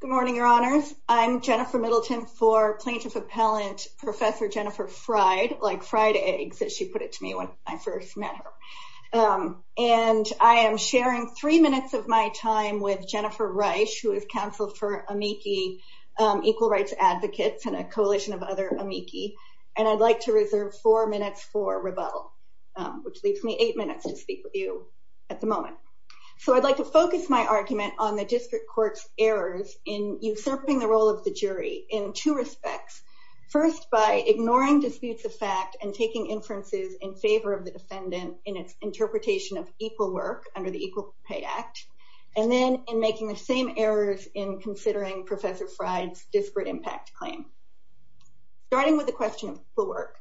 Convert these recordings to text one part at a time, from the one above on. Good morning, your honors. I'm Jennifer Middleton for plaintiff appellant Professor Jennifer Freyd, like fried eggs, as she put it to me when I first met her. And I am sharing three minutes of my time with Jennifer Reich, who is counsel for amici, equal rights advocates and a coalition of other amici. And I'd like to reserve four minutes for rebuttal, which leaves me eight minutes to speak with you at the moment. So I'd like to focus my argument on the district courts errors in usurping the role of the jury in two respects. First, by ignoring disputes of fact and taking inferences in favor of the defendant in its interpretation of equal work under the Equal Pay Act, and then in making the same errors in considering Professor Freyd's disparate impact claim. Starting with the question of work,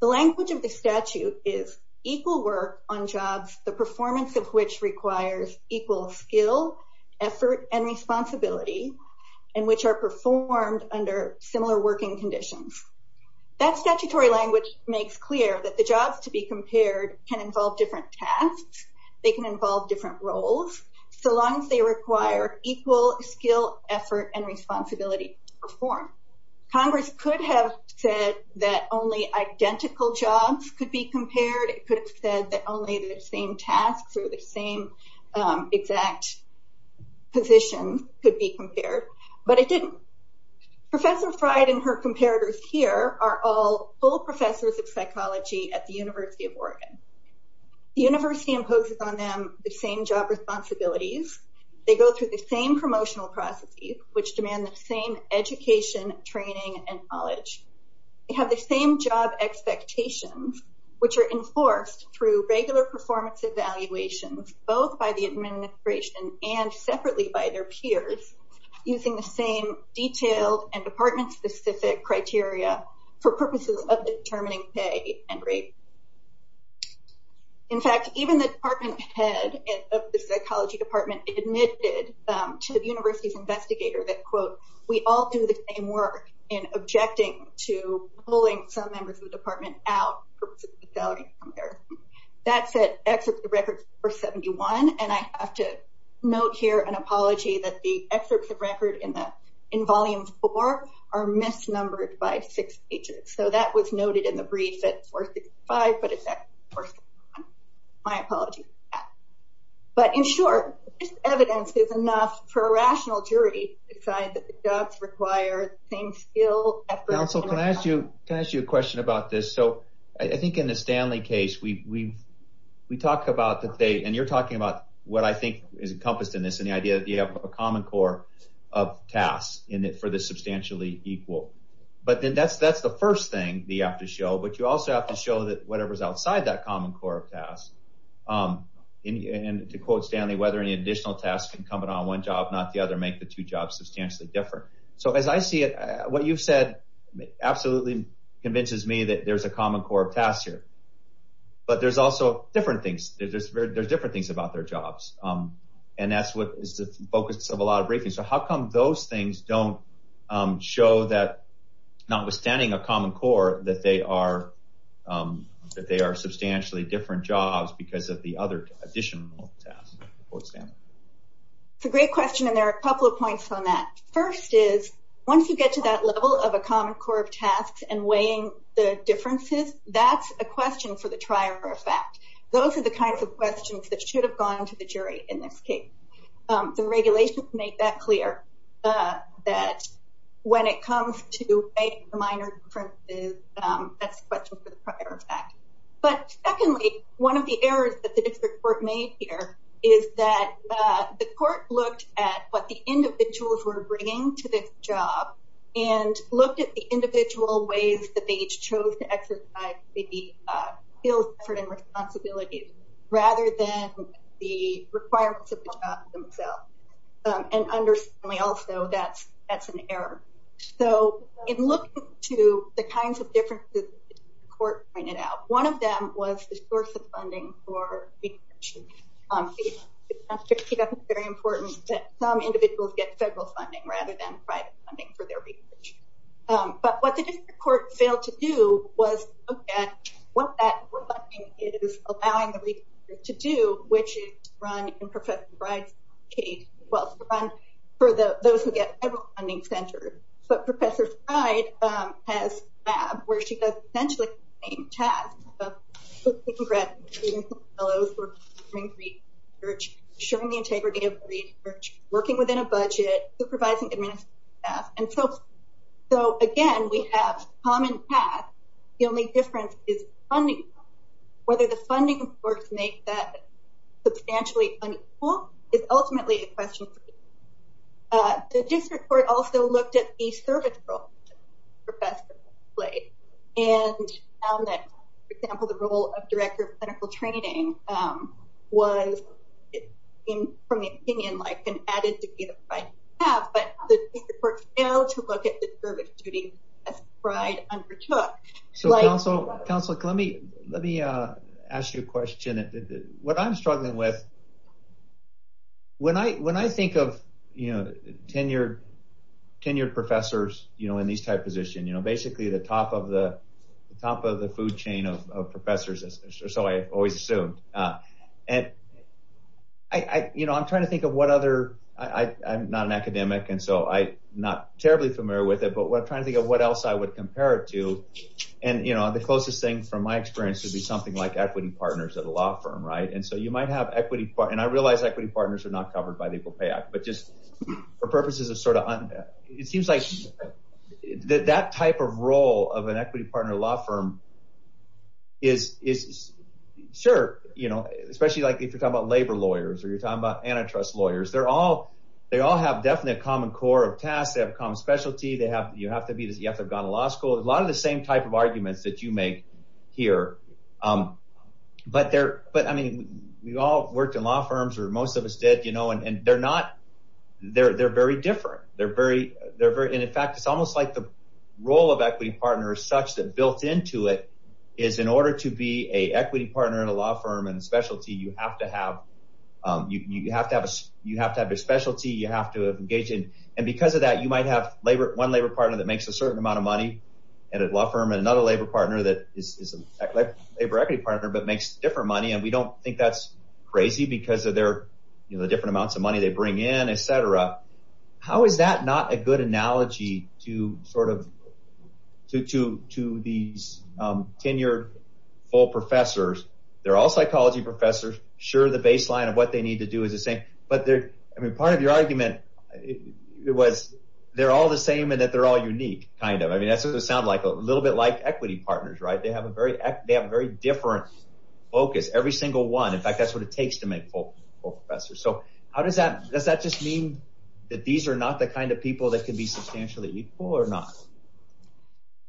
the language of the statute is equal work on jobs, the performance of which requires equal skill, effort and responsibility, and which are performed under similar working conditions. That statutory language makes clear that the jobs to be compared can involve different tasks, they can involve different roles, so long as they require equal skill, effort and responsibility for Congress could have said that only identical jobs could be compared, it could have said that only the same tasks or the same exact positions could be compared, but it didn't. Professor Freyd and her comparators here are all full professors of psychology at the University of Oregon. The university imposes on them the same job responsibilities, they go through the same promotional processes, which demand the same education, training and knowledge. They have the same job expectations, which are enforced through regular performance evaluations, both by the administration and separately by their peers, using the same detailed and department-specific criteria for purposes of determining pay and rate. In fact, even the department head of the psychology department admitted to the university's work in objecting to pulling some members of the department out. That said, excerpts of records 471, and I have to note here an apology that the excerpts of record in volume four are misnumbered by six pages, so that was noted in the brief at 465, but it's my apology for that. But in short, this evidence is enough for a rational jury to decide that the same skill... Counsel, can I ask you a question about this? So, I think in the Stanley case, we talk about that they, and you're talking about what I think is encompassed in this, and the idea that you have a common core of tasks for the substantially equal. But then that's the first thing that you have to show, but you also have to show that whatever's outside that common core of tasks, and to quote Stanley, whether any additional tasks can come in on one job, not the other, make the two jobs substantially different. So, as I see it, what you've said absolutely convinces me that there's a common core of tasks here, but there's also different things. There's different things about their jobs, and that's what is the focus of a lot of briefings. So, how come those things don't show that, notwithstanding a common core, that they are There are a couple of points on that. First is, once you get to that level of a common core of tasks and weighing the differences, that's a question for the trier of fact. Those are the kinds of questions that should have gone to the jury in this case. The regulations make that clear that when it comes to weighing the minor differences, that's a question for the prior of fact. But secondly, one of the errors that the district court made here is that the individuals were bringing to this job and looked at the individual ways that they each chose to exercise the skills, effort, and responsibilities, rather than the requirements of the job themselves. And understandably also, that's an error. So, in looking to the kinds of differences the court pointed out, one of them was the source of funding for individuals to get federal funding, rather than private funding for their research. But what the district court failed to do was look at what that funding is allowing the researchers to do, which is run in Professor Bride's case. Well, it's run for those who get federal funding centers, but Professor Bride has a lab where she does essentially the same task of looking at fellows who are doing research, showing the integrity of the research, working within a budget, supervising administrative staff, and so forth. So, again, we have common tasks. The only difference is funding. Whether the funding reports make that substantially unequal is ultimately a question for the district court. The district court also looked at the service role that the training was, from the opinion, like an added duty that I have, but the district court failed to look at the service duty that Bride undertook. So, counsel, let me ask you a question. What I'm struggling with, when I think of tenured professors in these type positions, basically the top of the system, I'm trying to think of what other, I'm not an academic, and so I'm not terribly familiar with it, but I'm trying to think of what else I would compare it to, and the closest thing, from my experience, would be something like equity partners at a law firm, right? And so, you might have equity, and I realize equity partners are not covered by the Equal Pay Act, but just for purposes of sort of, it seems like that type of role of an equity partner at a law firm is, sure, especially if you're talking about labor lawyers, or you're talking about antitrust lawyers, they all have definitely a common core of tasks, they have a common specialty, you have to have gone to law school, a lot of the same type of arguments that you make here, but I mean, we all worked in law firms, or most of us did, and they're not, they're very different, and in fact, it's almost like the role of equity partner is such that built into it, is in order to be a equity partner in a law firm and specialty, you have to have, you have to have a, you have to have a specialty, you have to engage in, and because of that, you might have labor, one labor partner that makes a certain amount of money at a law firm, and another labor partner that is a labor equity partner, but makes different money, and we don't think that's crazy, because of their, you know, the different amounts of money they bring in, etc., how is that not a good analogy to sort of, to these tenured full professors, they're all psychology professors, sure, the baseline of what they need to do is the same, but they're, I mean, part of your argument, it was, they're all the same, and that they're all unique, kind of, I mean, that's what it sounds like, a little bit like equity partners, right, they have a very, they have a very different focus, every single one, in fact, that's what it takes to make full professors, so how does that, does that just mean that these are not the kind of people that can be substantially equal, or not?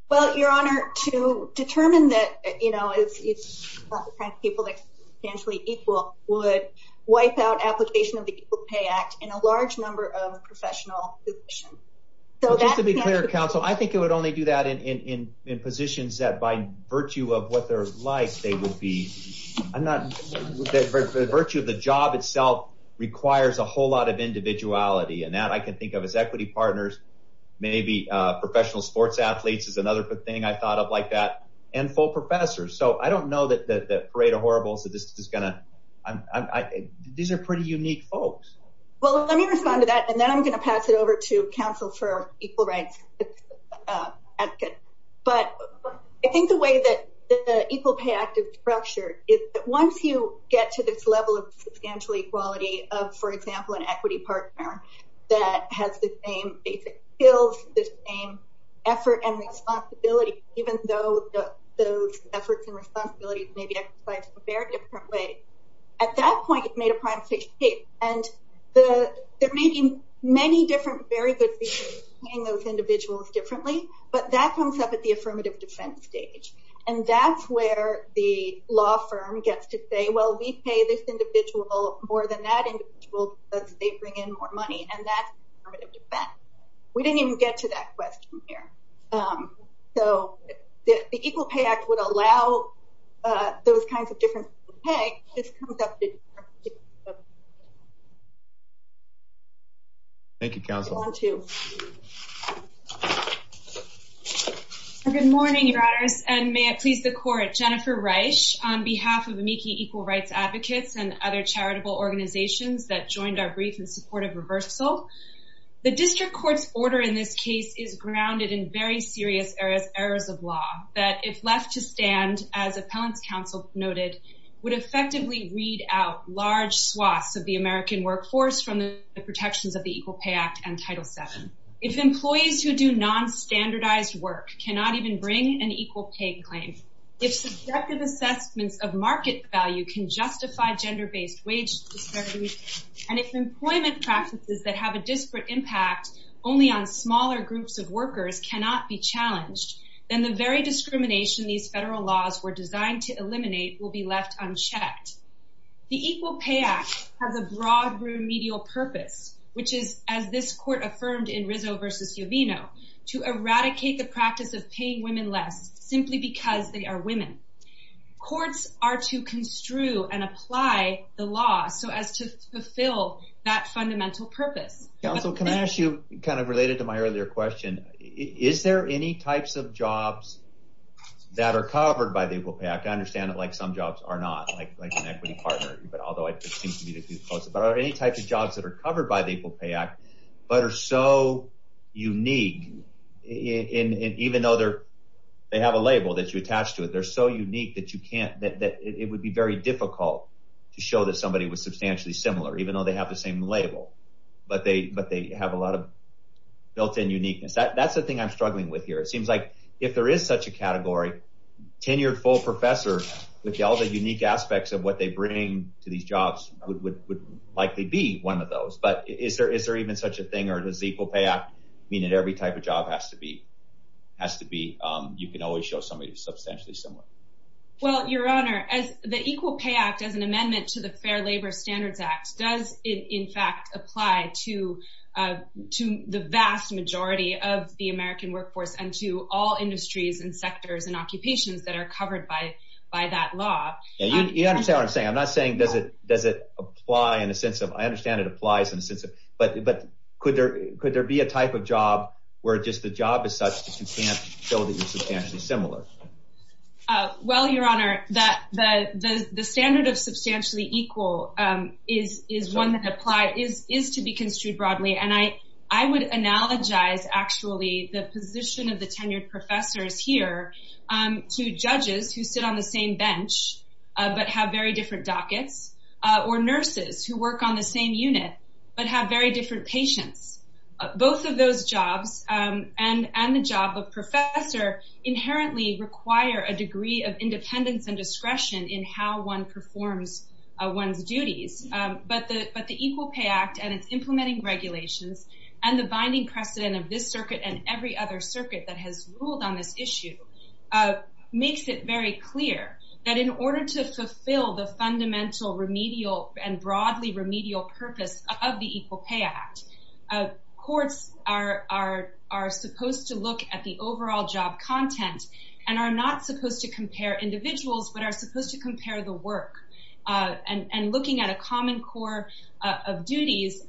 Well, your honor, to determine that, you know, it's not the kind of people that are substantially equal, would wipe out application of the Equal Pay Act in a large number of professional positions. So, just to be clear, counsel, I think it would only do that in positions that, by virtue of what they're like, they would be, I'm not, the virtue of the job itself requires a whole lot of individuality, and that I can think of as equity partners, maybe professional sports athletes is another thing I thought of like that, and full professors, so I don't know that Parade of Horribles, that this is gonna, I'm, these are pretty unique folks. Well, let me respond to that, and then I'm gonna pass it over to counsel for equal rights, but I think the way that the Equal Pay Act is structured is that once you get to this level of substantial equality of, for example, an equity partner that has the same basic skills, the same effort and responsibility, even though those efforts and responsibilities may be exercised in a very different way, at that point, it's made a prime stage case, and the, there may be many different, very good reasons to train those individuals differently, but that comes up at the affirmative defense stage, and that's where the law firm gets to say, well, we pay this individual more than that individual because they bring in more money, and that's affirmative defense. We didn't even get to that question here, so the Equal Pay Act would allow those kinds of different pay, this comes up. Thank you, counsel. I want to. Good morning, your honors, and may it please the court, Jennifer Reich, on behalf of Amici Equal Rights Advocates and other charitable organizations that joined our brief in support of reversal. The district court's order in this case is grounded in very serious errors of law that if left to stand, as appellant's counsel noted, would effectively weed out large swaths of the American workforce from the protections of the Equal Pay Act and Title VII. If employees who do nonstandardized work cannot even bring an equal pay claim, if subjective assessments of market value can justify gender-based wage disparities, and if employment practices that have a disparate impact only on smaller groups of workers cannot be challenged, then the very discrimination these federal laws were designed to eliminate will be left unchecked. The Equal Pay Act has a broad remedial purpose, which is, as this court affirmed in Rizzo v. Uvino, to eradicate the practice of paying women less simply because they are women. Courts are to construe and apply the law so as to fulfill that fundamental purpose. Counsel, can I ask you, kind of related to my earlier question, is there any types of jobs that are covered by the Equal Pay Act? I understand that some jobs are not, like an equity partner, although I seem to be too close. But are there any types of jobs that are covered by the Equal Pay Act but are so unique, even though they have a label that you attach to it, they're so unique that it would be very difficult to show that somebody was substantially similar, even though they have the same label. But they have a lot of built-in uniqueness. That's the thing I'm struggling with here. It seems like if there is such a category, tenured full professor with all the unique aspects of what they bring to these jobs would likely be one of those. But is there even such a thing, or does the Equal Pay Act mean that every type of job has to be, you can always show somebody who's substantially similar? Well, Your Honor, the Equal Pay Act, as an amendment to the Fair Labor Standards Act, does in fact apply to the vast majority of the American workforce and to all industries and sectors and occupations that are covered by that law. You understand what I'm saying. I'm not saying does it apply in a sense of, I understand it applies in a sense of, but could there be a type of job where just the job is such that you can't show that you're substantially similar? Well, Your Honor, the standard of substantially equal is one that applies, is to be construed broadly. And I would analogize actually the position of the tenured professors here to judges who sit on the same bench, but have very different dockets, or nurses who work on the same unit, but have very different patients. Both of those jobs and the job of professor inherently require a degree of independence and discretion in how one performs one's duties. But the Equal Pay Act and its implementing regulations, and the binding precedent of this circuit and every other circuit that has ruled on this issue, makes it very clear that in order to fulfill the fundamental remedial and broadly remedial purpose of the Equal Pay Act, courts are supposed to look at the overall job content, and are not supposed to compare individuals, but are supposed to compare the work. And looking at a common core of duties,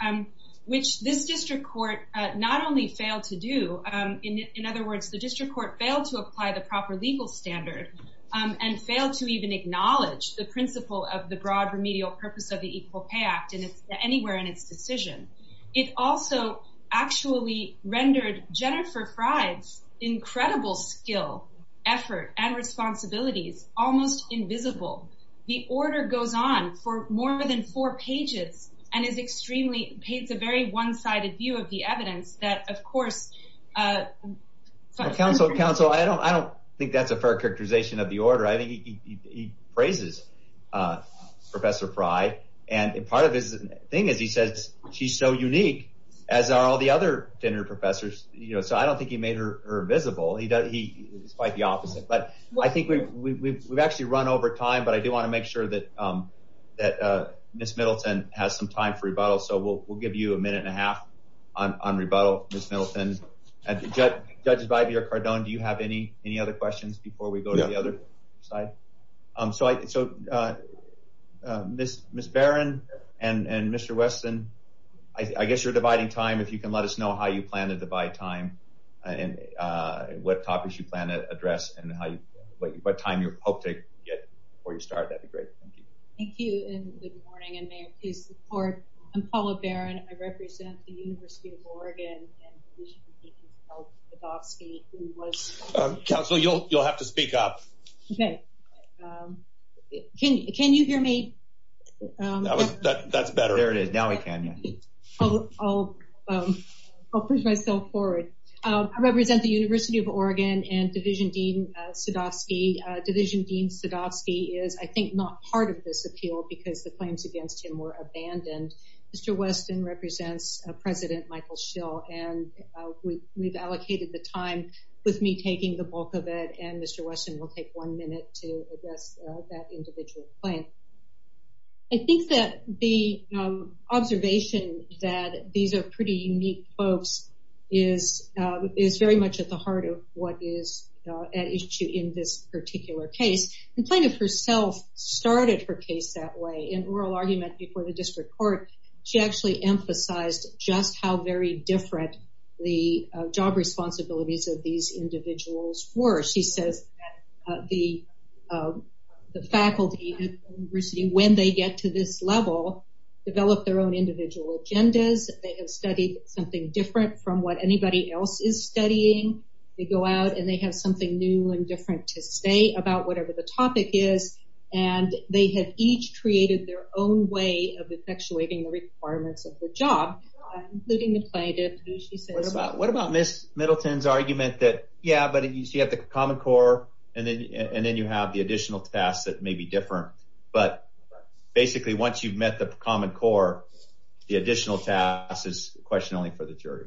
which this district court not only failed to do, in other words, the district court failed to apply the proper legal standard, and failed to even acknowledge the principle of the broad remedial purpose of the Equal Pay Act, and it's anywhere in its decision. It also actually rendered Jennifer Fry's incredible skill, effort, and responsibilities almost invisible. The order goes on for more than four pages, and is extremely, it's a very one-sided view of the evidence that, of course... Counsel, counsel, I don't think that's a fair characterization of the order. I think he praises Professor Fry, and part of his thing is he says she's so unique, as are all the other tenured professors, you know, so I don't think he made her visible. He's quite the opposite, but I think we've actually run over time, but I do want to make sure that Ms. Middleton has some time for rebuttal, so we'll give you a minute and a half on rebuttal, Ms. Middleton. Judges So, Ms. Barron and Mr. Weston, I guess you're dividing time. If you can let us know how you plan to divide time, and what topics you plan to address, and how you, what time you hope to get before you start, that'd be great. Thank you. Thank you, and good morning, and may it please the court. I'm Paula Barron. I represent the University of Oregon, and we should be thinking about Sadovsky. Counsel, you'll have to speak up. Okay. Can you hear me? That's better. There it is. Now we can. I'll push myself forward. I represent the University of Oregon, and Division Dean Sadovsky. Division Dean Sadovsky is, I think, not part of this appeal, because the claims against him were abandoned. Mr. Weston represents President Michael Schill, and we've allocated the time with me taking the bulk of it, and Mr. Weston will take one minute to address that individual claim. I think that the observation that these are pretty unique folks is very much at the heart of what is at issue in this particular case, and plaintiff herself started her case that way. In oral argument before the district court, she actually emphasized just how very different the job responsibilities of these individuals were. She says that the faculty at the university, when they get to this level, develop their own individual agendas. They have studied something different from what anybody else is studying. They go out, and they have something new and different to say about whatever the topic is, and they have each created their own way of effectuating the requirements of the job, including the plaintiff. What about Ms. Middleton's argument that, yeah, but you have the common core, and then you have the additional tasks that may be different, but basically, once you've met the common core, the additional task is question only for the jury.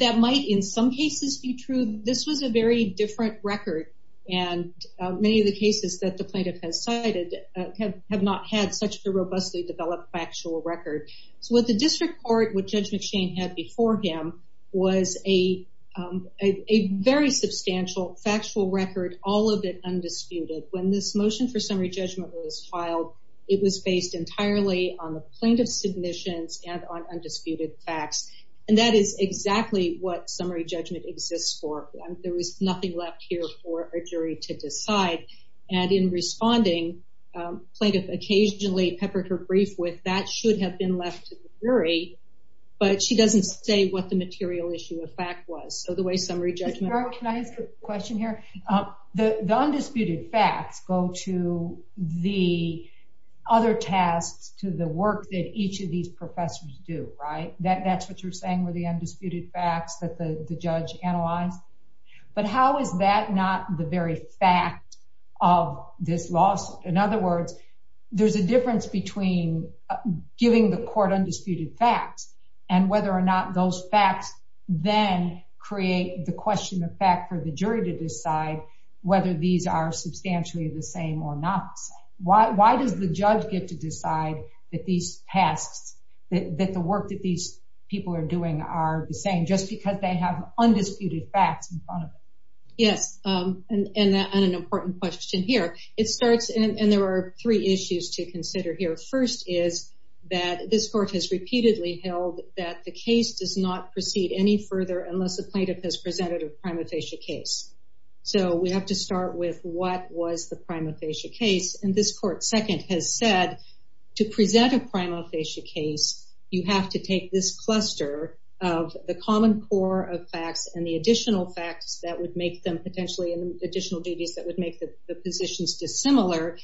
That might, in some cases, be true. This was a different record, and many of the cases that the plaintiff has cited have not had such a robustly developed factual record. What the district court, what Judge McShane had before him, was a very substantial factual record, all of it undisputed. When this motion for summary judgment was filed, it was based entirely on the plaintiff's submissions and on undisputed facts, and that is nothing left here for a jury to decide. In responding, plaintiff occasionally peppered her brief with, that should have been left to the jury, but she doesn't say what the material issue of fact was, so the way summary judgment- Ms. Barrow, can I ask a question here? The undisputed facts go to the other tasks, to the work that each of these professors do, right? That's what you're saying were the undisputed facts that the judge analyzed, but how is that not the very fact of this lawsuit? In other words, there's a difference between giving the court undisputed facts and whether or not those facts then create the question of fact for the jury to decide whether these are substantially the same or not the same. Why does the judge get to decide that these tasks, that the work that these people are doing are the same just because they have undisputed facts in front of them? Yes, and an important question here. It starts, and there are three issues to consider here. First is that this court has repeatedly held that the case does not proceed any further unless the plaintiff has presented a prima facie case, so we have to start with what was the prima facie case, and this court, second, has said to present a prima facie case, you have to take this cluster of the common core of facts and the additional facts that would make them potentially additional duties that would make the positions dissimilar,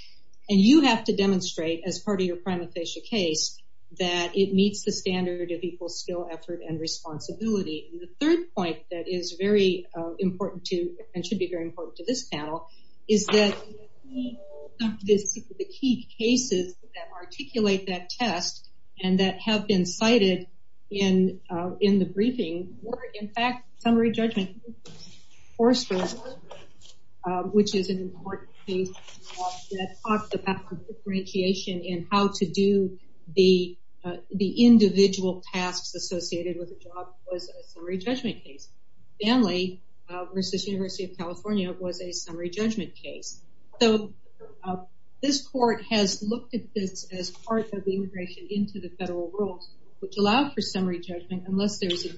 and you have to demonstrate as part of your prima facie case that it meets the standard of equal skill, effort, and responsibility. The third point that is very important to, and should be very important to this panel, is that the key cases that articulate that test and that have been cited in the briefing were, in fact, summary judgment, which is an important case that talks about differentiation in how to do the individual tasks associated with a job, was a summary judgment case. Stanley versus University of California was a summary judgment case, so this court has looked at this as part of the integration into the federal rules, which allow for summary judgment unless there's a...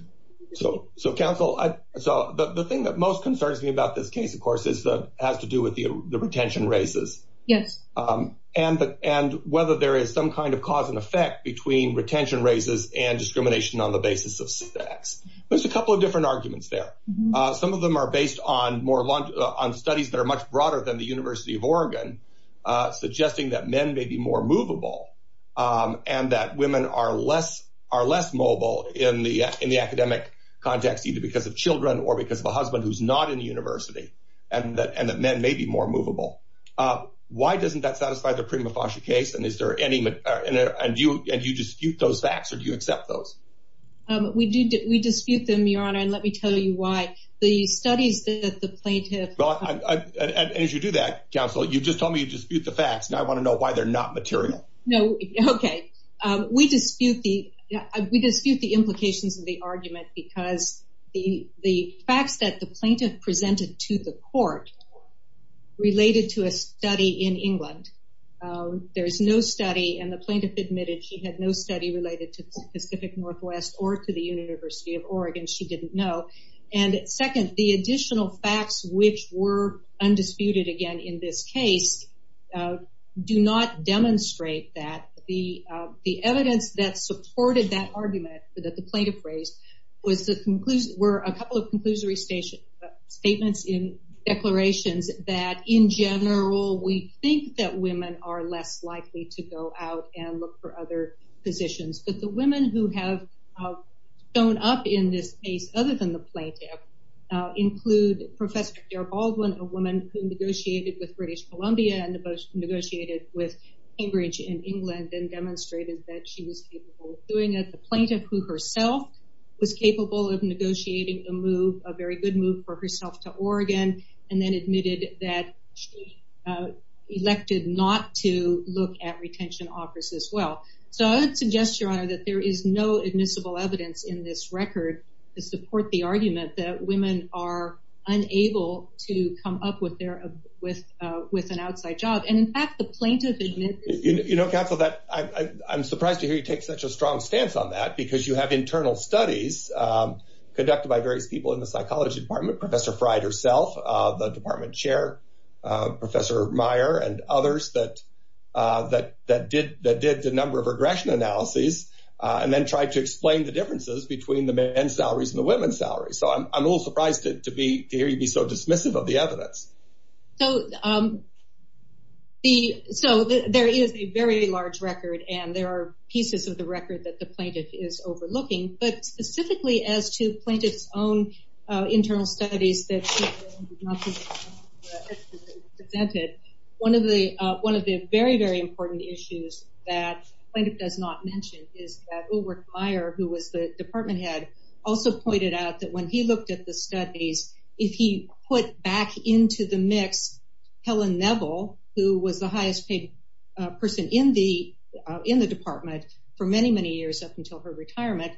So counsel, so the thing that most concerns me about this case, of course, is that has to do with the retention races. Yes. And whether there is some kind of cause and effect between retention races and discrimination on the basis of sex. There's a couple of different arguments there. Some of them are based on studies that are much broader than the University of Oregon, suggesting that men may be more movable and that women are less mobile in the academic context, either because of children or because of a husband who's not in the university, and that men may be more movable. Why doesn't that satisfy the prima facie case, and is there any... And do you dispute those facts, or do you accept those? We dispute them, Your Honor, and let me tell you why. The studies that the plaintiff... And as you do that, counsel, you just told me you dispute the facts, and I want to know why they're not material. No, okay. We dispute the implications of the argument because the facts that the plaintiff presented to the court related to a study in England. There's no study, and the plaintiff admitted she had no study related to Pacific Northwest or to the University of Oregon. She didn't know. And second, the additional facts which were undisputed, again, in this case do not demonstrate that. The evidence that supported that argument that the plaintiff raised were a couple of conclusory statements in declarations that, in general, we think that women are less likely to go out and look for other positions. But the women who have shown up in this case, other than the plaintiff, include Professor Dara Baldwin, a woman who negotiated with British Columbia and negotiated with Cambridge in England and demonstrated that she was capable of doing it. The plaintiff, who herself was capable of negotiating a move, a very good move for herself to Oregon, and then admitted that she elected not to look at retention offers as well. So I would suggest, Your Honor, that there is no admissible evidence in this record to support the argument that women are unable to come up with an outside job. And in fact, the plaintiff admitted... You know, counsel, I'm surprised to hear you take such a strong stance on that, because you have internal studies conducted by various people in the psychology department, Professor Fryde herself, the department chair, Professor Meyer, and others that did the number of regression analyses and then tried to explain the differences between the men's salaries and the women's salaries. So I'm a little surprised to hear you be so dismissive of the evidence. So there is a very large record, and there are pieces of the record that the plaintiff is overlooking. But specifically as to plaintiff's own internal studies that presented, one of the very, very important issues that the plaintiff does not mention is that Ulrich Meyer, who was the department head, also pointed out that when he looked at the studies, if he put back into the mix Helen Neville, who was the highest paid person in the department for many, many years up until her retirement,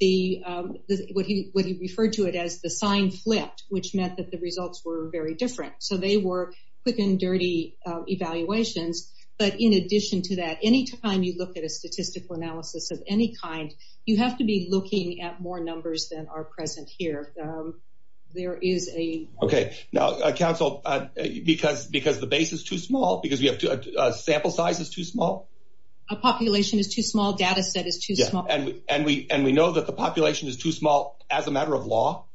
what he referred to it as the sign flipped, which meant that the results were very different. So they were quick and dirty evaluations. But in addition to that, anytime you look at a statistical analysis of any kind, you have to be looking at more numbers than are present here. There is a... Okay. Now, counsel, because the base is too small, because we have sample size is too small? A population is too small, data set is too small. Yeah. And we know that the population is too small as a matter of law?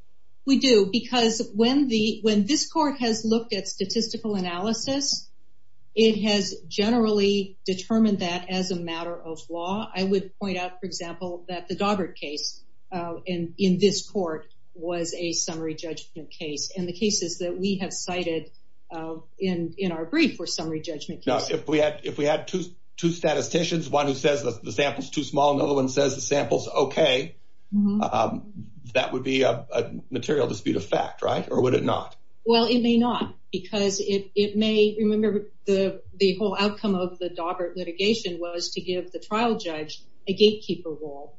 We do. Because when this court has looked at statistical analysis, it has generally determined that as a matter of law. I would point out, for example, that the Daugherty case in this court was a summary judgment case. And the cases that we have cited in our brief were summary judgment cases. Now, if we had two statisticians, one who says the sample is too small, and the other one says the sample is okay, that would be a material dispute of fact, right? Or would it not? Well, it may not. Because it may... Remember, the whole outcome of the Daugherty litigation was to give the trial judge a gatekeeper role.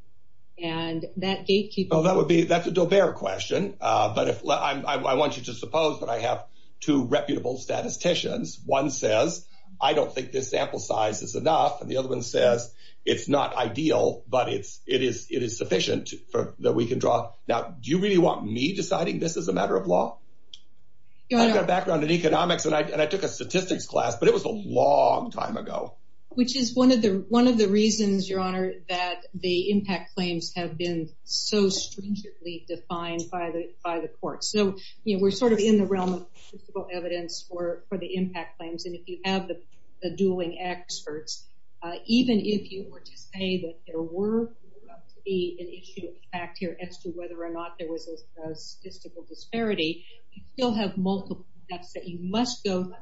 And that gatekeeper... Well, that would be... That's a dobert question. But I want you to suppose that I have two reputable statisticians. One says, I don't think this sample size is enough. And the other one says, it's not ideal, but it is sufficient that we can draw. Now, do you really want me deciding this as a matter of law? I've got a background in economics, and I took a statistics class, but it was a long time ago. Which is one of the reasons, Your Honor, that the impact claims have been so stringently defined by the court. So we're sort of in the realm of statistical evidence for the impact claims. And if you have the dueling experts, even if you were to say that there were to be an issue of fact here as to whether or not there was a statistical disparity, you still have multiple steps that you must go through.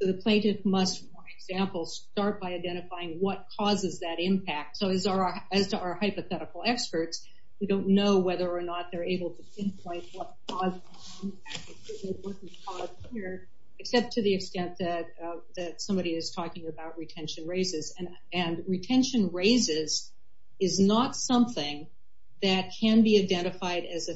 So the plaintiff must, for example, start by identifying what causes that impact. So as to our hypothetical experts, we don't know whether or not they're able to pinpoint what caused the impact, what was caused here, except to the extent that somebody is talking about retention raises. And retention raises is not something that can be identified as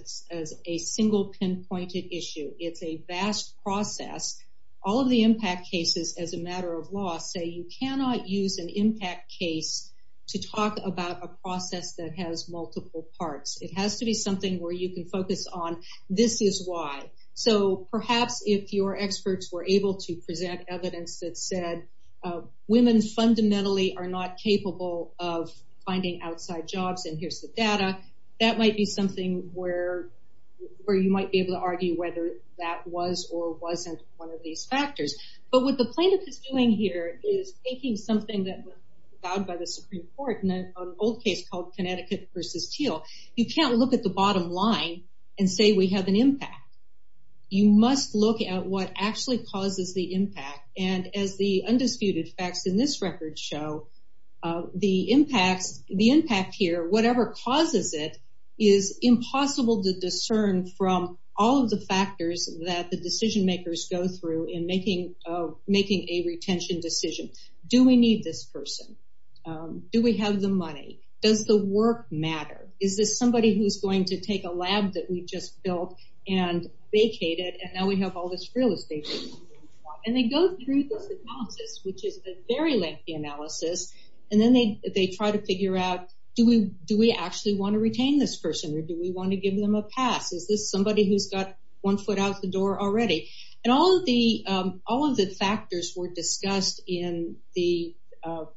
a single pinpointed issue. It's a vast process. All of the impact cases as a matter of law say you cannot use an impact case to talk about a process that has multiple parts. It has to be something where you can focus on this is why. So perhaps if your experts were able to present evidence that said women fundamentally are not capable of finding outside jobs, and here's the data, that might be something where you might be able to argue whether that was or wasn't one of these factors. But what the plaintiff is doing here is taking something that was vowed by the Supreme Court in an old case called Connecticut versus Teal. You can't look at the bottom line and say we have an impact. You must look at what actually causes the impact. And as the undisputed facts in this record show, the impact here, whatever causes it, is impossible to discern from all of the factors that the decision makers go through in making a retention decision. Do we need this person? Do we have the money? Does the work matter? Is this somebody who's going to take a lab that we just built and vacate it and now we have all this real estate? And they go through this analysis, which is a very lengthy analysis, and then they try to figure out do we actually want to retain this person or do we want to give them a pass? Is this somebody who's got one foot out the door already? And all of the factors were discussed in the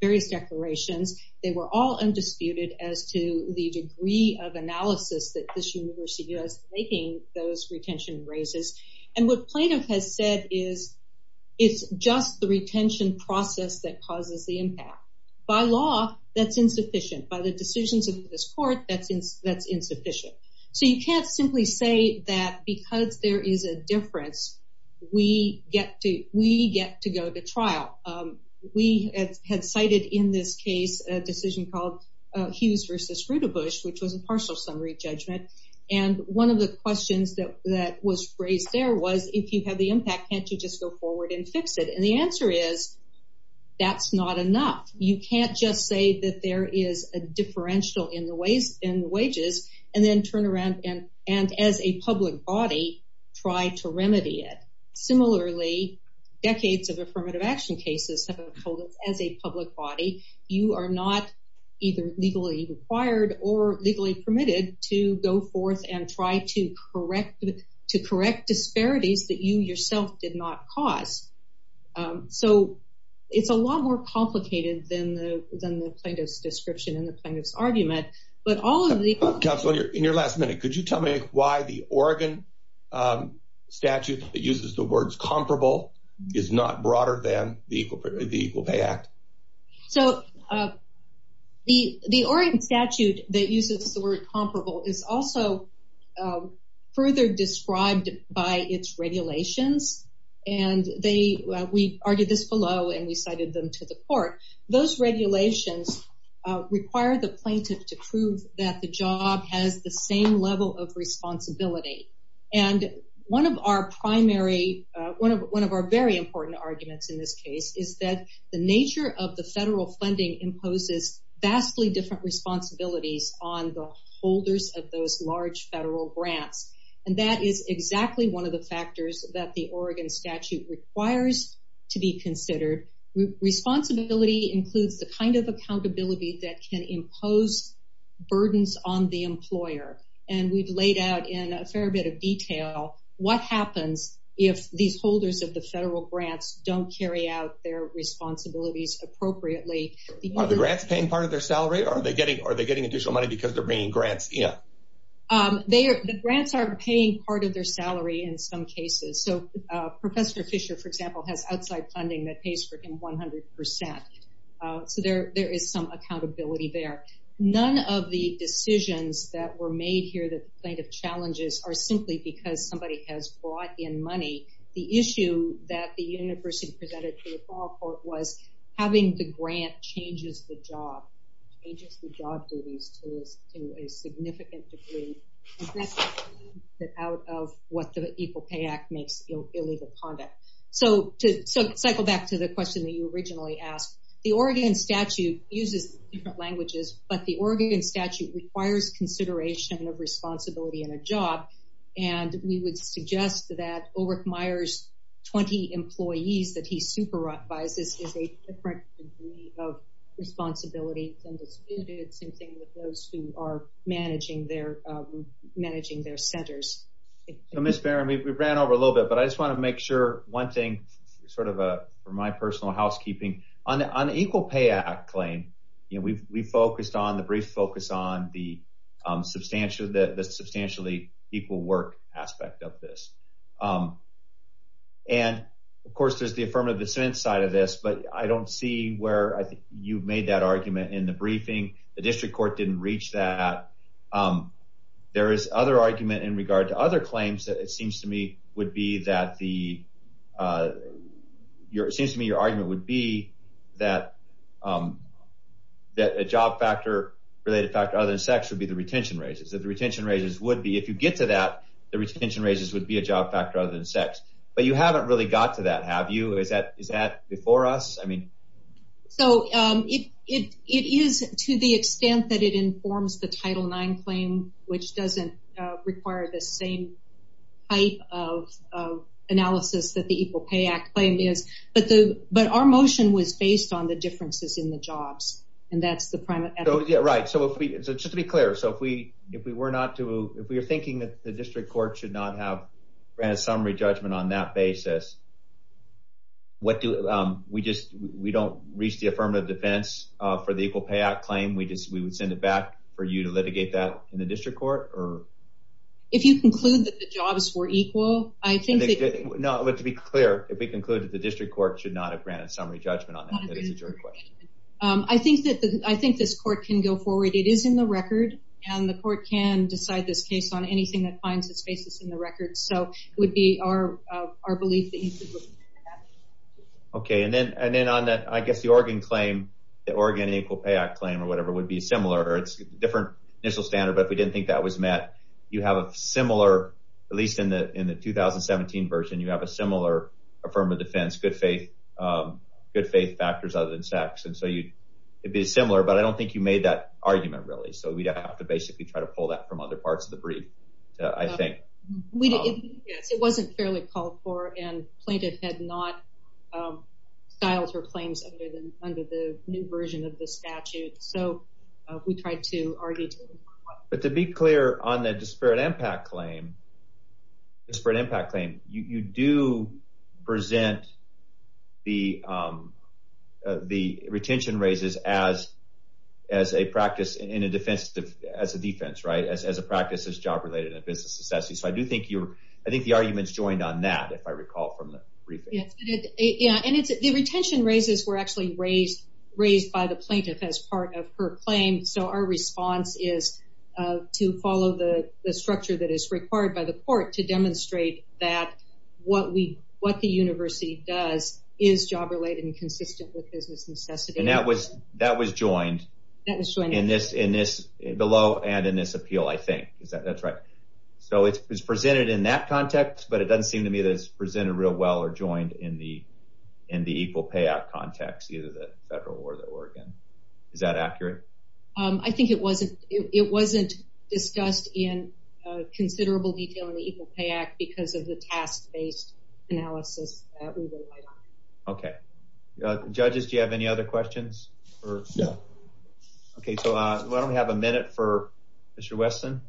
various declarations. They were all undisputed as to the degree of analysis that this university is making those retention raises. And what plaintiff has said is it's just the retention process that causes the impact. By law, that's insufficient. By the decisions of this court, that's insufficient. So you can't simply say that because there is a difference, we get to go to trial. We had cited in this case a decision called Hughes versus Rudabush, which was a partial summary judgment. And one of the questions that was raised there was if you have the impact, can't you just go forward and fix it? And the answer is that's not enough. You can't just say that there is a differential in the wages and then turn around and as a public body try to remedy it. Similarly, decades of affirmative action cases have been held as a public body. You are not either legally required or legally permitted to go forth and try to correct disparities that you yourself did not cause. So it's a lot more complicated than the plaintiff's description and the plaintiff's argument. But all of the... Counselor, in your last minute, could you tell why the Oregon statute that uses the words comparable is not broader than the Equal Pay Act? So the Oregon statute that uses the word comparable is also further described by its regulations. And we argued this below and we cited them to the court. Those regulations require the plaintiff to that the job has the same level of responsibility. And one of our very important arguments in this case is that the nature of the federal funding imposes vastly different responsibilities on the holders of those large federal grants. And that is exactly one of the factors that the Oregon statute requires to be considered. Responsibility includes the kind of accountability that can pose burdens on the employer. And we've laid out in a fair bit of detail what happens if these holders of the federal grants don't carry out their responsibilities appropriately. Are the grants paying part of their salary or are they getting additional money because they're bringing grants in? The grants are paying part of their salary in some cases. So Professor Fisher, for example, has outside funding that pays for him 100 percent. So there is some accountability there. None of the decisions that were made here, the plaintiff challenges, are simply because somebody has brought in money. The issue that the university presented to the fall court was having the grant changes the job duties to a significant degree. That's out of what the Equal Pay Act makes illegal conduct. So to cycle back to the question that you originally asked, the Oregon statute uses different languages, but the Oregon statute requires consideration of responsibility in a job. And we would suggest that Ulrich Meyer's 20 employees that he supervises is a different degree of responsibility than those who are managing their centers. So Ms. Barron, we ran over a little bit, but I just want to make sure one thing, sort of for my personal housekeeping, on the Equal Pay Act claim, you know, we've focused on the brief focus on the substantially equal work aspect of this. And of course, there's the affirmative dissent side of this, but I don't see where I think you've reached that. There is other argument in regard to other claims that it seems to me would be that the, it seems to me your argument would be that a job factor, related factor other than sex, would be the retention raises. That the retention raises would be, if you get to that, the retention raises would be a job factor other than sex. But you haven't really got to that, have you? Is that informs the Title IX claim, which doesn't require the same type of analysis that the Equal Pay Act claim is, but our motion was based on the differences in the jobs. And that's the primary. Yeah, right. So if we, so just to be clear, so if we were not to, if we were thinking that the district court should not have ran a summary judgment on that basis, what do we just, we don't reach the affirmative defense for the Equal Pay Act claim, we just, we would send it back for you to litigate that in the district court, or? If you conclude that the jobs were equal, I think that... No, but to be clear, if we conclude that the district court should not have granted summary judgment on that, that is a jury question. I think that, I think this court can go forward. It is in the record, and the court can decide this case on anything that finds its basis in the record. So it would be our belief that you could look at that. Okay, and then on that, I guess the Oregon claim, the Oregon Equal Pay Act claim or whatever would be similar. It's different initial standard, but if we didn't think that was met, you have a similar, at least in the 2017 version, you have a similar affirmative defense, good faith factors other than sex. And so you'd be similar, but I don't think you made that argument really. So we'd have to basically try to pull that from other parts of the brief, I think. Yes, it wasn't fairly called for and plaintiff had not filed her claims under the new version of the statute. So we tried to argue. But to be clear on the disparate impact claim, you do present the as a practice is job-related and business necessity. So I do think you're, I think the argument's joined on that, if I recall from the briefing. Yeah. And it's the retention raises were actually raised by the plaintiff as part of her claim. So our response is to follow the structure that is required by the court to demonstrate that what we, what the university does is job-related and consistent with business necessity. And that was, that was joined in this, in this below and in this appeal, I think is that that's right. So it's presented in that context, but it doesn't seem to me that it's presented real well or joined in the, in the Equal Pay Act context, either the federal or the Oregon. Is that accurate? I think it wasn't, it wasn't discussed in considerable detail in the Equal Pay Act because of the task-based analysis that we relied on. Okay. Judges, do you have any other questions? No. Okay. So why don't we have a minute for Mr. Weston?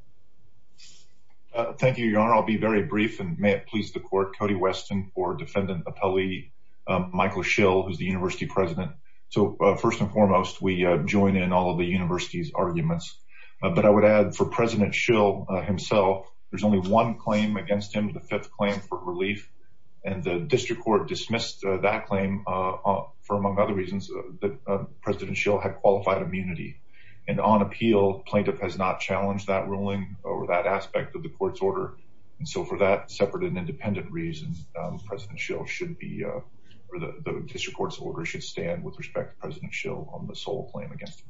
Thank you, your honor. I'll be very brief and may it please the court, Cody Weston for defendant appellee, Michael Schill, who's the university president. So first and foremost, we join in all of the university's arguments, but I would add for president Schill himself, there's only one claim against him, the fifth claim for relief and the district court dismissed that claim for among other reasons that president Schill had qualified immunity and on appeal plaintiff has not challenged that ruling or that aspect of the court's order. And so for that separate and independent reasons, president Schill should be, or the district court's order should stand with respect to president Schill on the sole claim against him.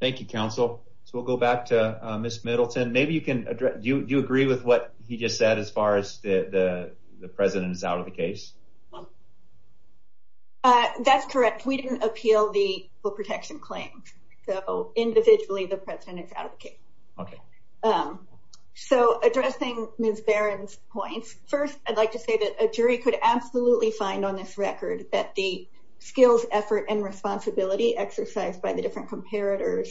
Thank you, counsel. So we'll go back to Ms. Middleton. Maybe you can address, do you agree with what he just said as far as the president is out of the case? That's correct. We didn't appeal the protection claims. So individually, the president is out of the case. Okay. So addressing Ms. Barron's points. First, I'd like to say that a jury could absolutely find on this record that the skills, effort, and responsibility exercised by the different comparators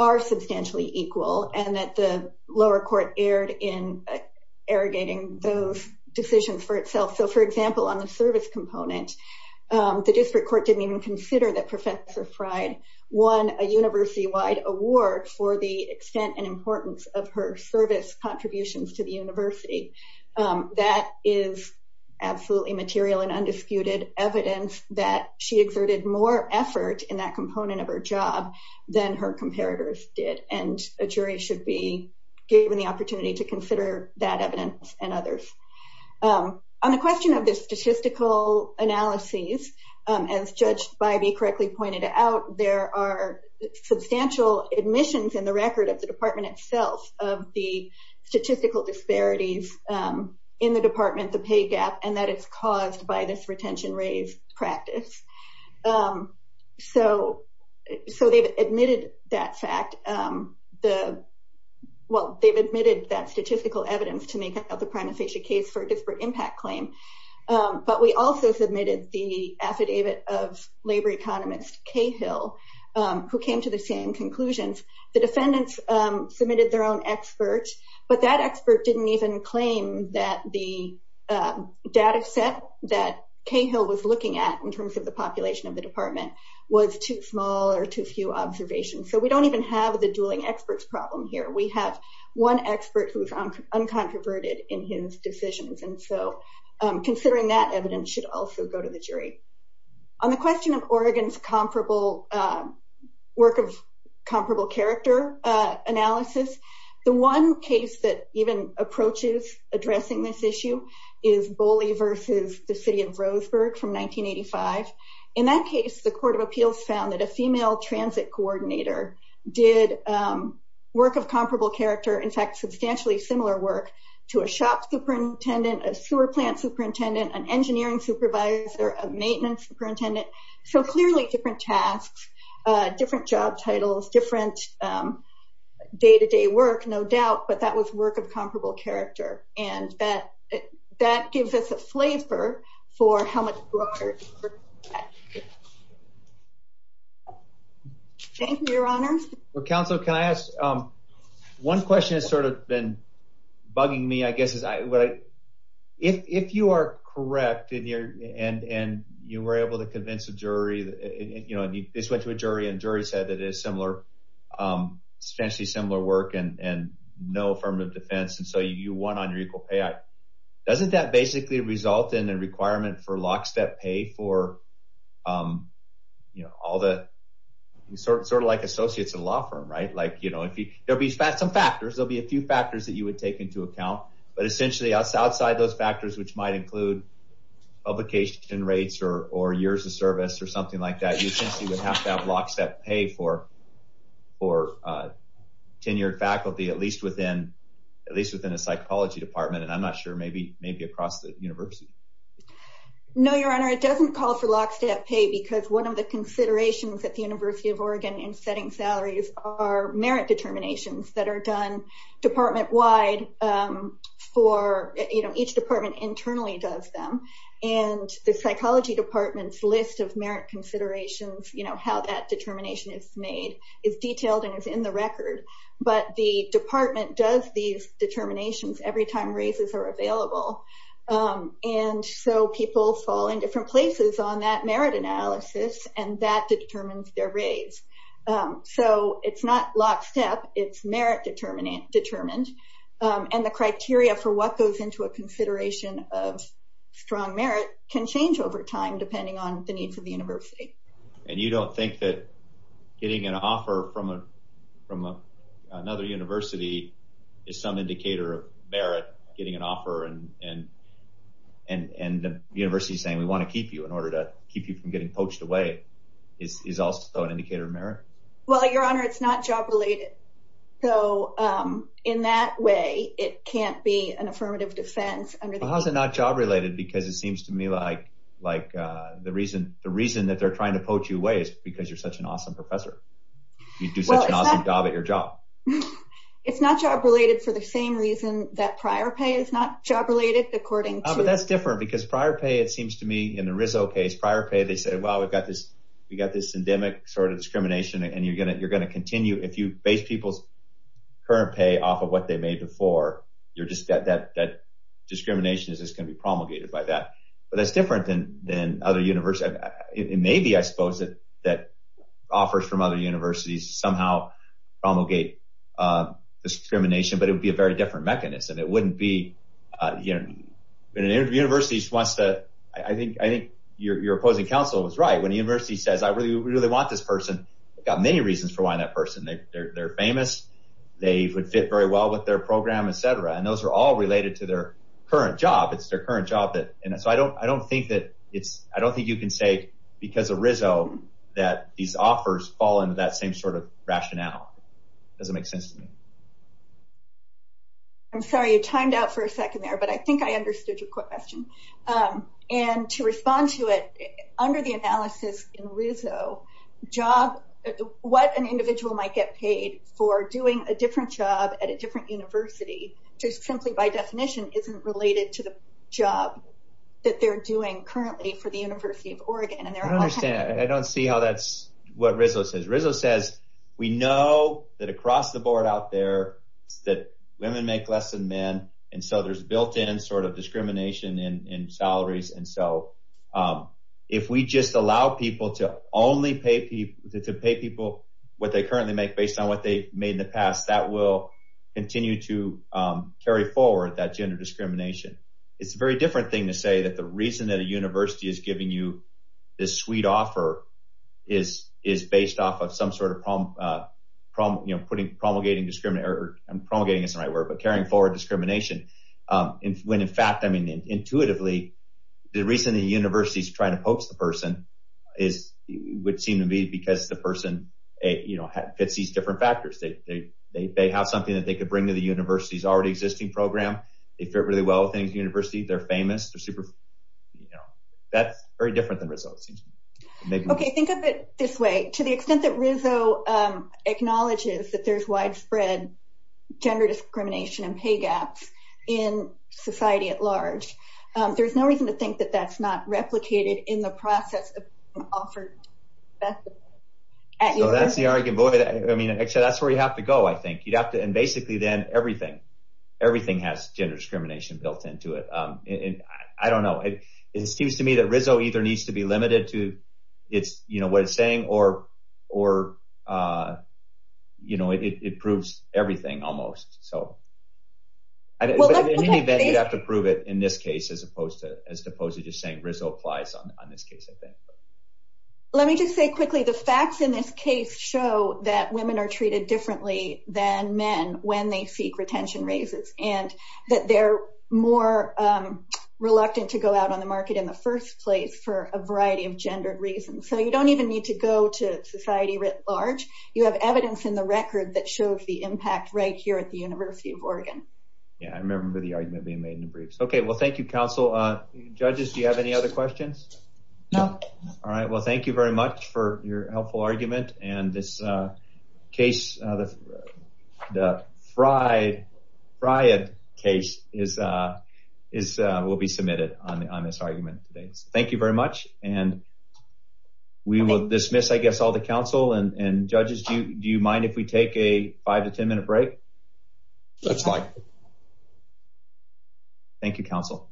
are substantially equal and that the decisions for itself. So for example, on the service component, the district court didn't even consider that professor Fried won a university-wide award for the extent and importance of her service contributions to the university. That is absolutely material and undisputed evidence that she exerted more effort in that component of her job than her comparators did. And a jury should be given the opportunity to consider that evidence and others. On the question of the statistical analyses, as Judge Bybee correctly pointed out, there are substantial admissions in the record of the department itself of the statistical disparities in the department, the pay gap, and that it's caused by this retention-raise practice. So they've admitted that fact. Well, they've admitted that statistical evidence to make up the prima facie case for a disparate impact claim. But we also submitted the affidavit of labor economist Cahill, who came to the same conclusions. The defendants submitted their own expert, but that expert didn't even claim that the data set that Cahill was looking at in terms the population of the department was too small or too few observations. So we don't even have the dueling experts problem here. We have one expert who's uncontroverted in his decisions. And so considering that evidence should also go to the jury. On the question of Oregon's comparable work of comparable character analysis, the one case that even approaches addressing this issue is Boley versus the city of Roseburg from 1985. In that case, the court of appeals found that a female transit coordinator did work of comparable character, in fact, substantially similar work to a shop superintendent, a sewer plant superintendent, an engineering supervisor, a maintenance superintendent. So clearly different tasks, different job titles, different day-to-day work, no doubt, but that was work of comparable character. And that gives us a flavor for how much broader... Thank you, your honor. Well, counsel, can I ask, one question has sort of been bugging me, I guess, is if you are correct and you were able to convince a jury, this went to a jury and jury said that it is substantially similar work and no affirmative defense, and so you won on your Equal Pay Act. Doesn't that basically result in a requirement for lockstep pay for all the... Sort of like associates in a law firm, right? There'll be some factors, there'll be a few factors that you would take into account, but essentially outside those factors, which might include publication rates or years of service or something like that, you essentially would have to have lockstep pay for tenured faculty, at least within a psychology department, and I'm not sure, maybe across the university. No, your honor, it doesn't call for lockstep pay because one of the considerations at the University of Oregon in setting salaries are merit determinations that are done department-wide for, you know, each department internally does them, and the psychology department's list of merit considerations, you know, how that determination is made is detailed and is in the record, but the department does these determinations every time raises are available, and so people fall in different places on that merit analysis and that determines their raise. So it's not lockstep, it's merit determined, and the criteria for what goes into a consideration of strong merit can change over time depending on the needs of the university. And you don't think that getting an offer from another university is some indicator of merit, getting an offer, and the university saying we want to keep you in order to keep you from merit? Well, your honor, it's not job-related, so in that way, it can't be an affirmative defense. How is it not job-related? Because it seems to me like the reason that they're trying to poach you away is because you're such an awesome professor. You do such an awesome job at your job. It's not job-related for the same reason that prior pay is not job-related, according to... But that's different because prior pay, it seems to me, in the Rizzo case, prior pay, they said, well, we've got this endemic sort of discrimination and you're going to continue. If you base people's current pay off of what they made before, that discrimination is just going to be promulgated by that. But that's different than other universities. It may be, I suppose, that offers from other universities somehow promulgate discrimination, but it would be a very When a university says, I really, really want this person, they've got many reasons for wanting that person. They're famous. They would fit very well with their program, etc. And those are all related to their current job. It's their current job. And so I don't think that it's... I don't think you can say because of Rizzo that these offers fall into that same sort of rationale. It doesn't make sense to me. I'm sorry, you timed out for a second there, but I think I understood your quick question. And to respond to it, under the analysis in Rizzo, what an individual might get paid for doing a different job at a different university, just simply by definition, isn't related to the job that they're doing currently for the University of Oregon. I don't understand. I don't see how that's what Rizzo says. Rizzo says, we know that across the board out there that women make less than men. And so there's built-in sort in salaries. And so if we just allow people to only pay people what they currently make based on what they made in the past, that will continue to carry forward that gender discrimination. It's a very different thing to say that the reason that a university is giving you this sweet offer is based off of some sort of promulgating discrimination, I'm promulgating isn't the right word, but carrying forward discrimination. When in fact, I mean, intuitively, the reason the university is trying to poach the person is, would seem to be because the person, you know, fits these different factors. They have something that they could bring to the university's already existing program. They fit really well with the university. They're famous. They're super, you know, that's very different than Rizzo. Okay. Think of it this way, to the extent that Rizzo acknowledges that there's widespread gender discrimination and pay gaps in society at large, there's no reason to think that that's not replicated in the process of offered. So that's the argument, boy, I mean, actually that's where you have to go. I think you'd have to, and basically then everything, everything has gender discrimination built into it. And I don't know, it seems to me that Rizzo either needs to be limited to it's, you know, what it's saying or, or, you know, it proves everything almost. So in any event, you'd have to prove it in this case, as opposed to, as opposed to just saying Rizzo applies on this case, I think. Let me just say quickly, the facts in this case show that women are treated differently than men when they seek retention raises and that they're more reluctant to go out on the market in the first place for a variety of gender reasons. So you don't even need to go to society writ large. You have evidence in the record that shows the impact right here at the University of Oregon. Yeah. I remember the argument being made in the briefs. Okay. Well, thank you, counsel. Judges, do you have any other questions? No. All right. Well, thank you very much for your helpful argument and this case, the Fried case, will be submitted on this argument today. So thank you very much. And we will dismiss, I guess, all the counsel and judges. Do you mind if we take a five to ten minute break? That's fine. Thank you, counsel.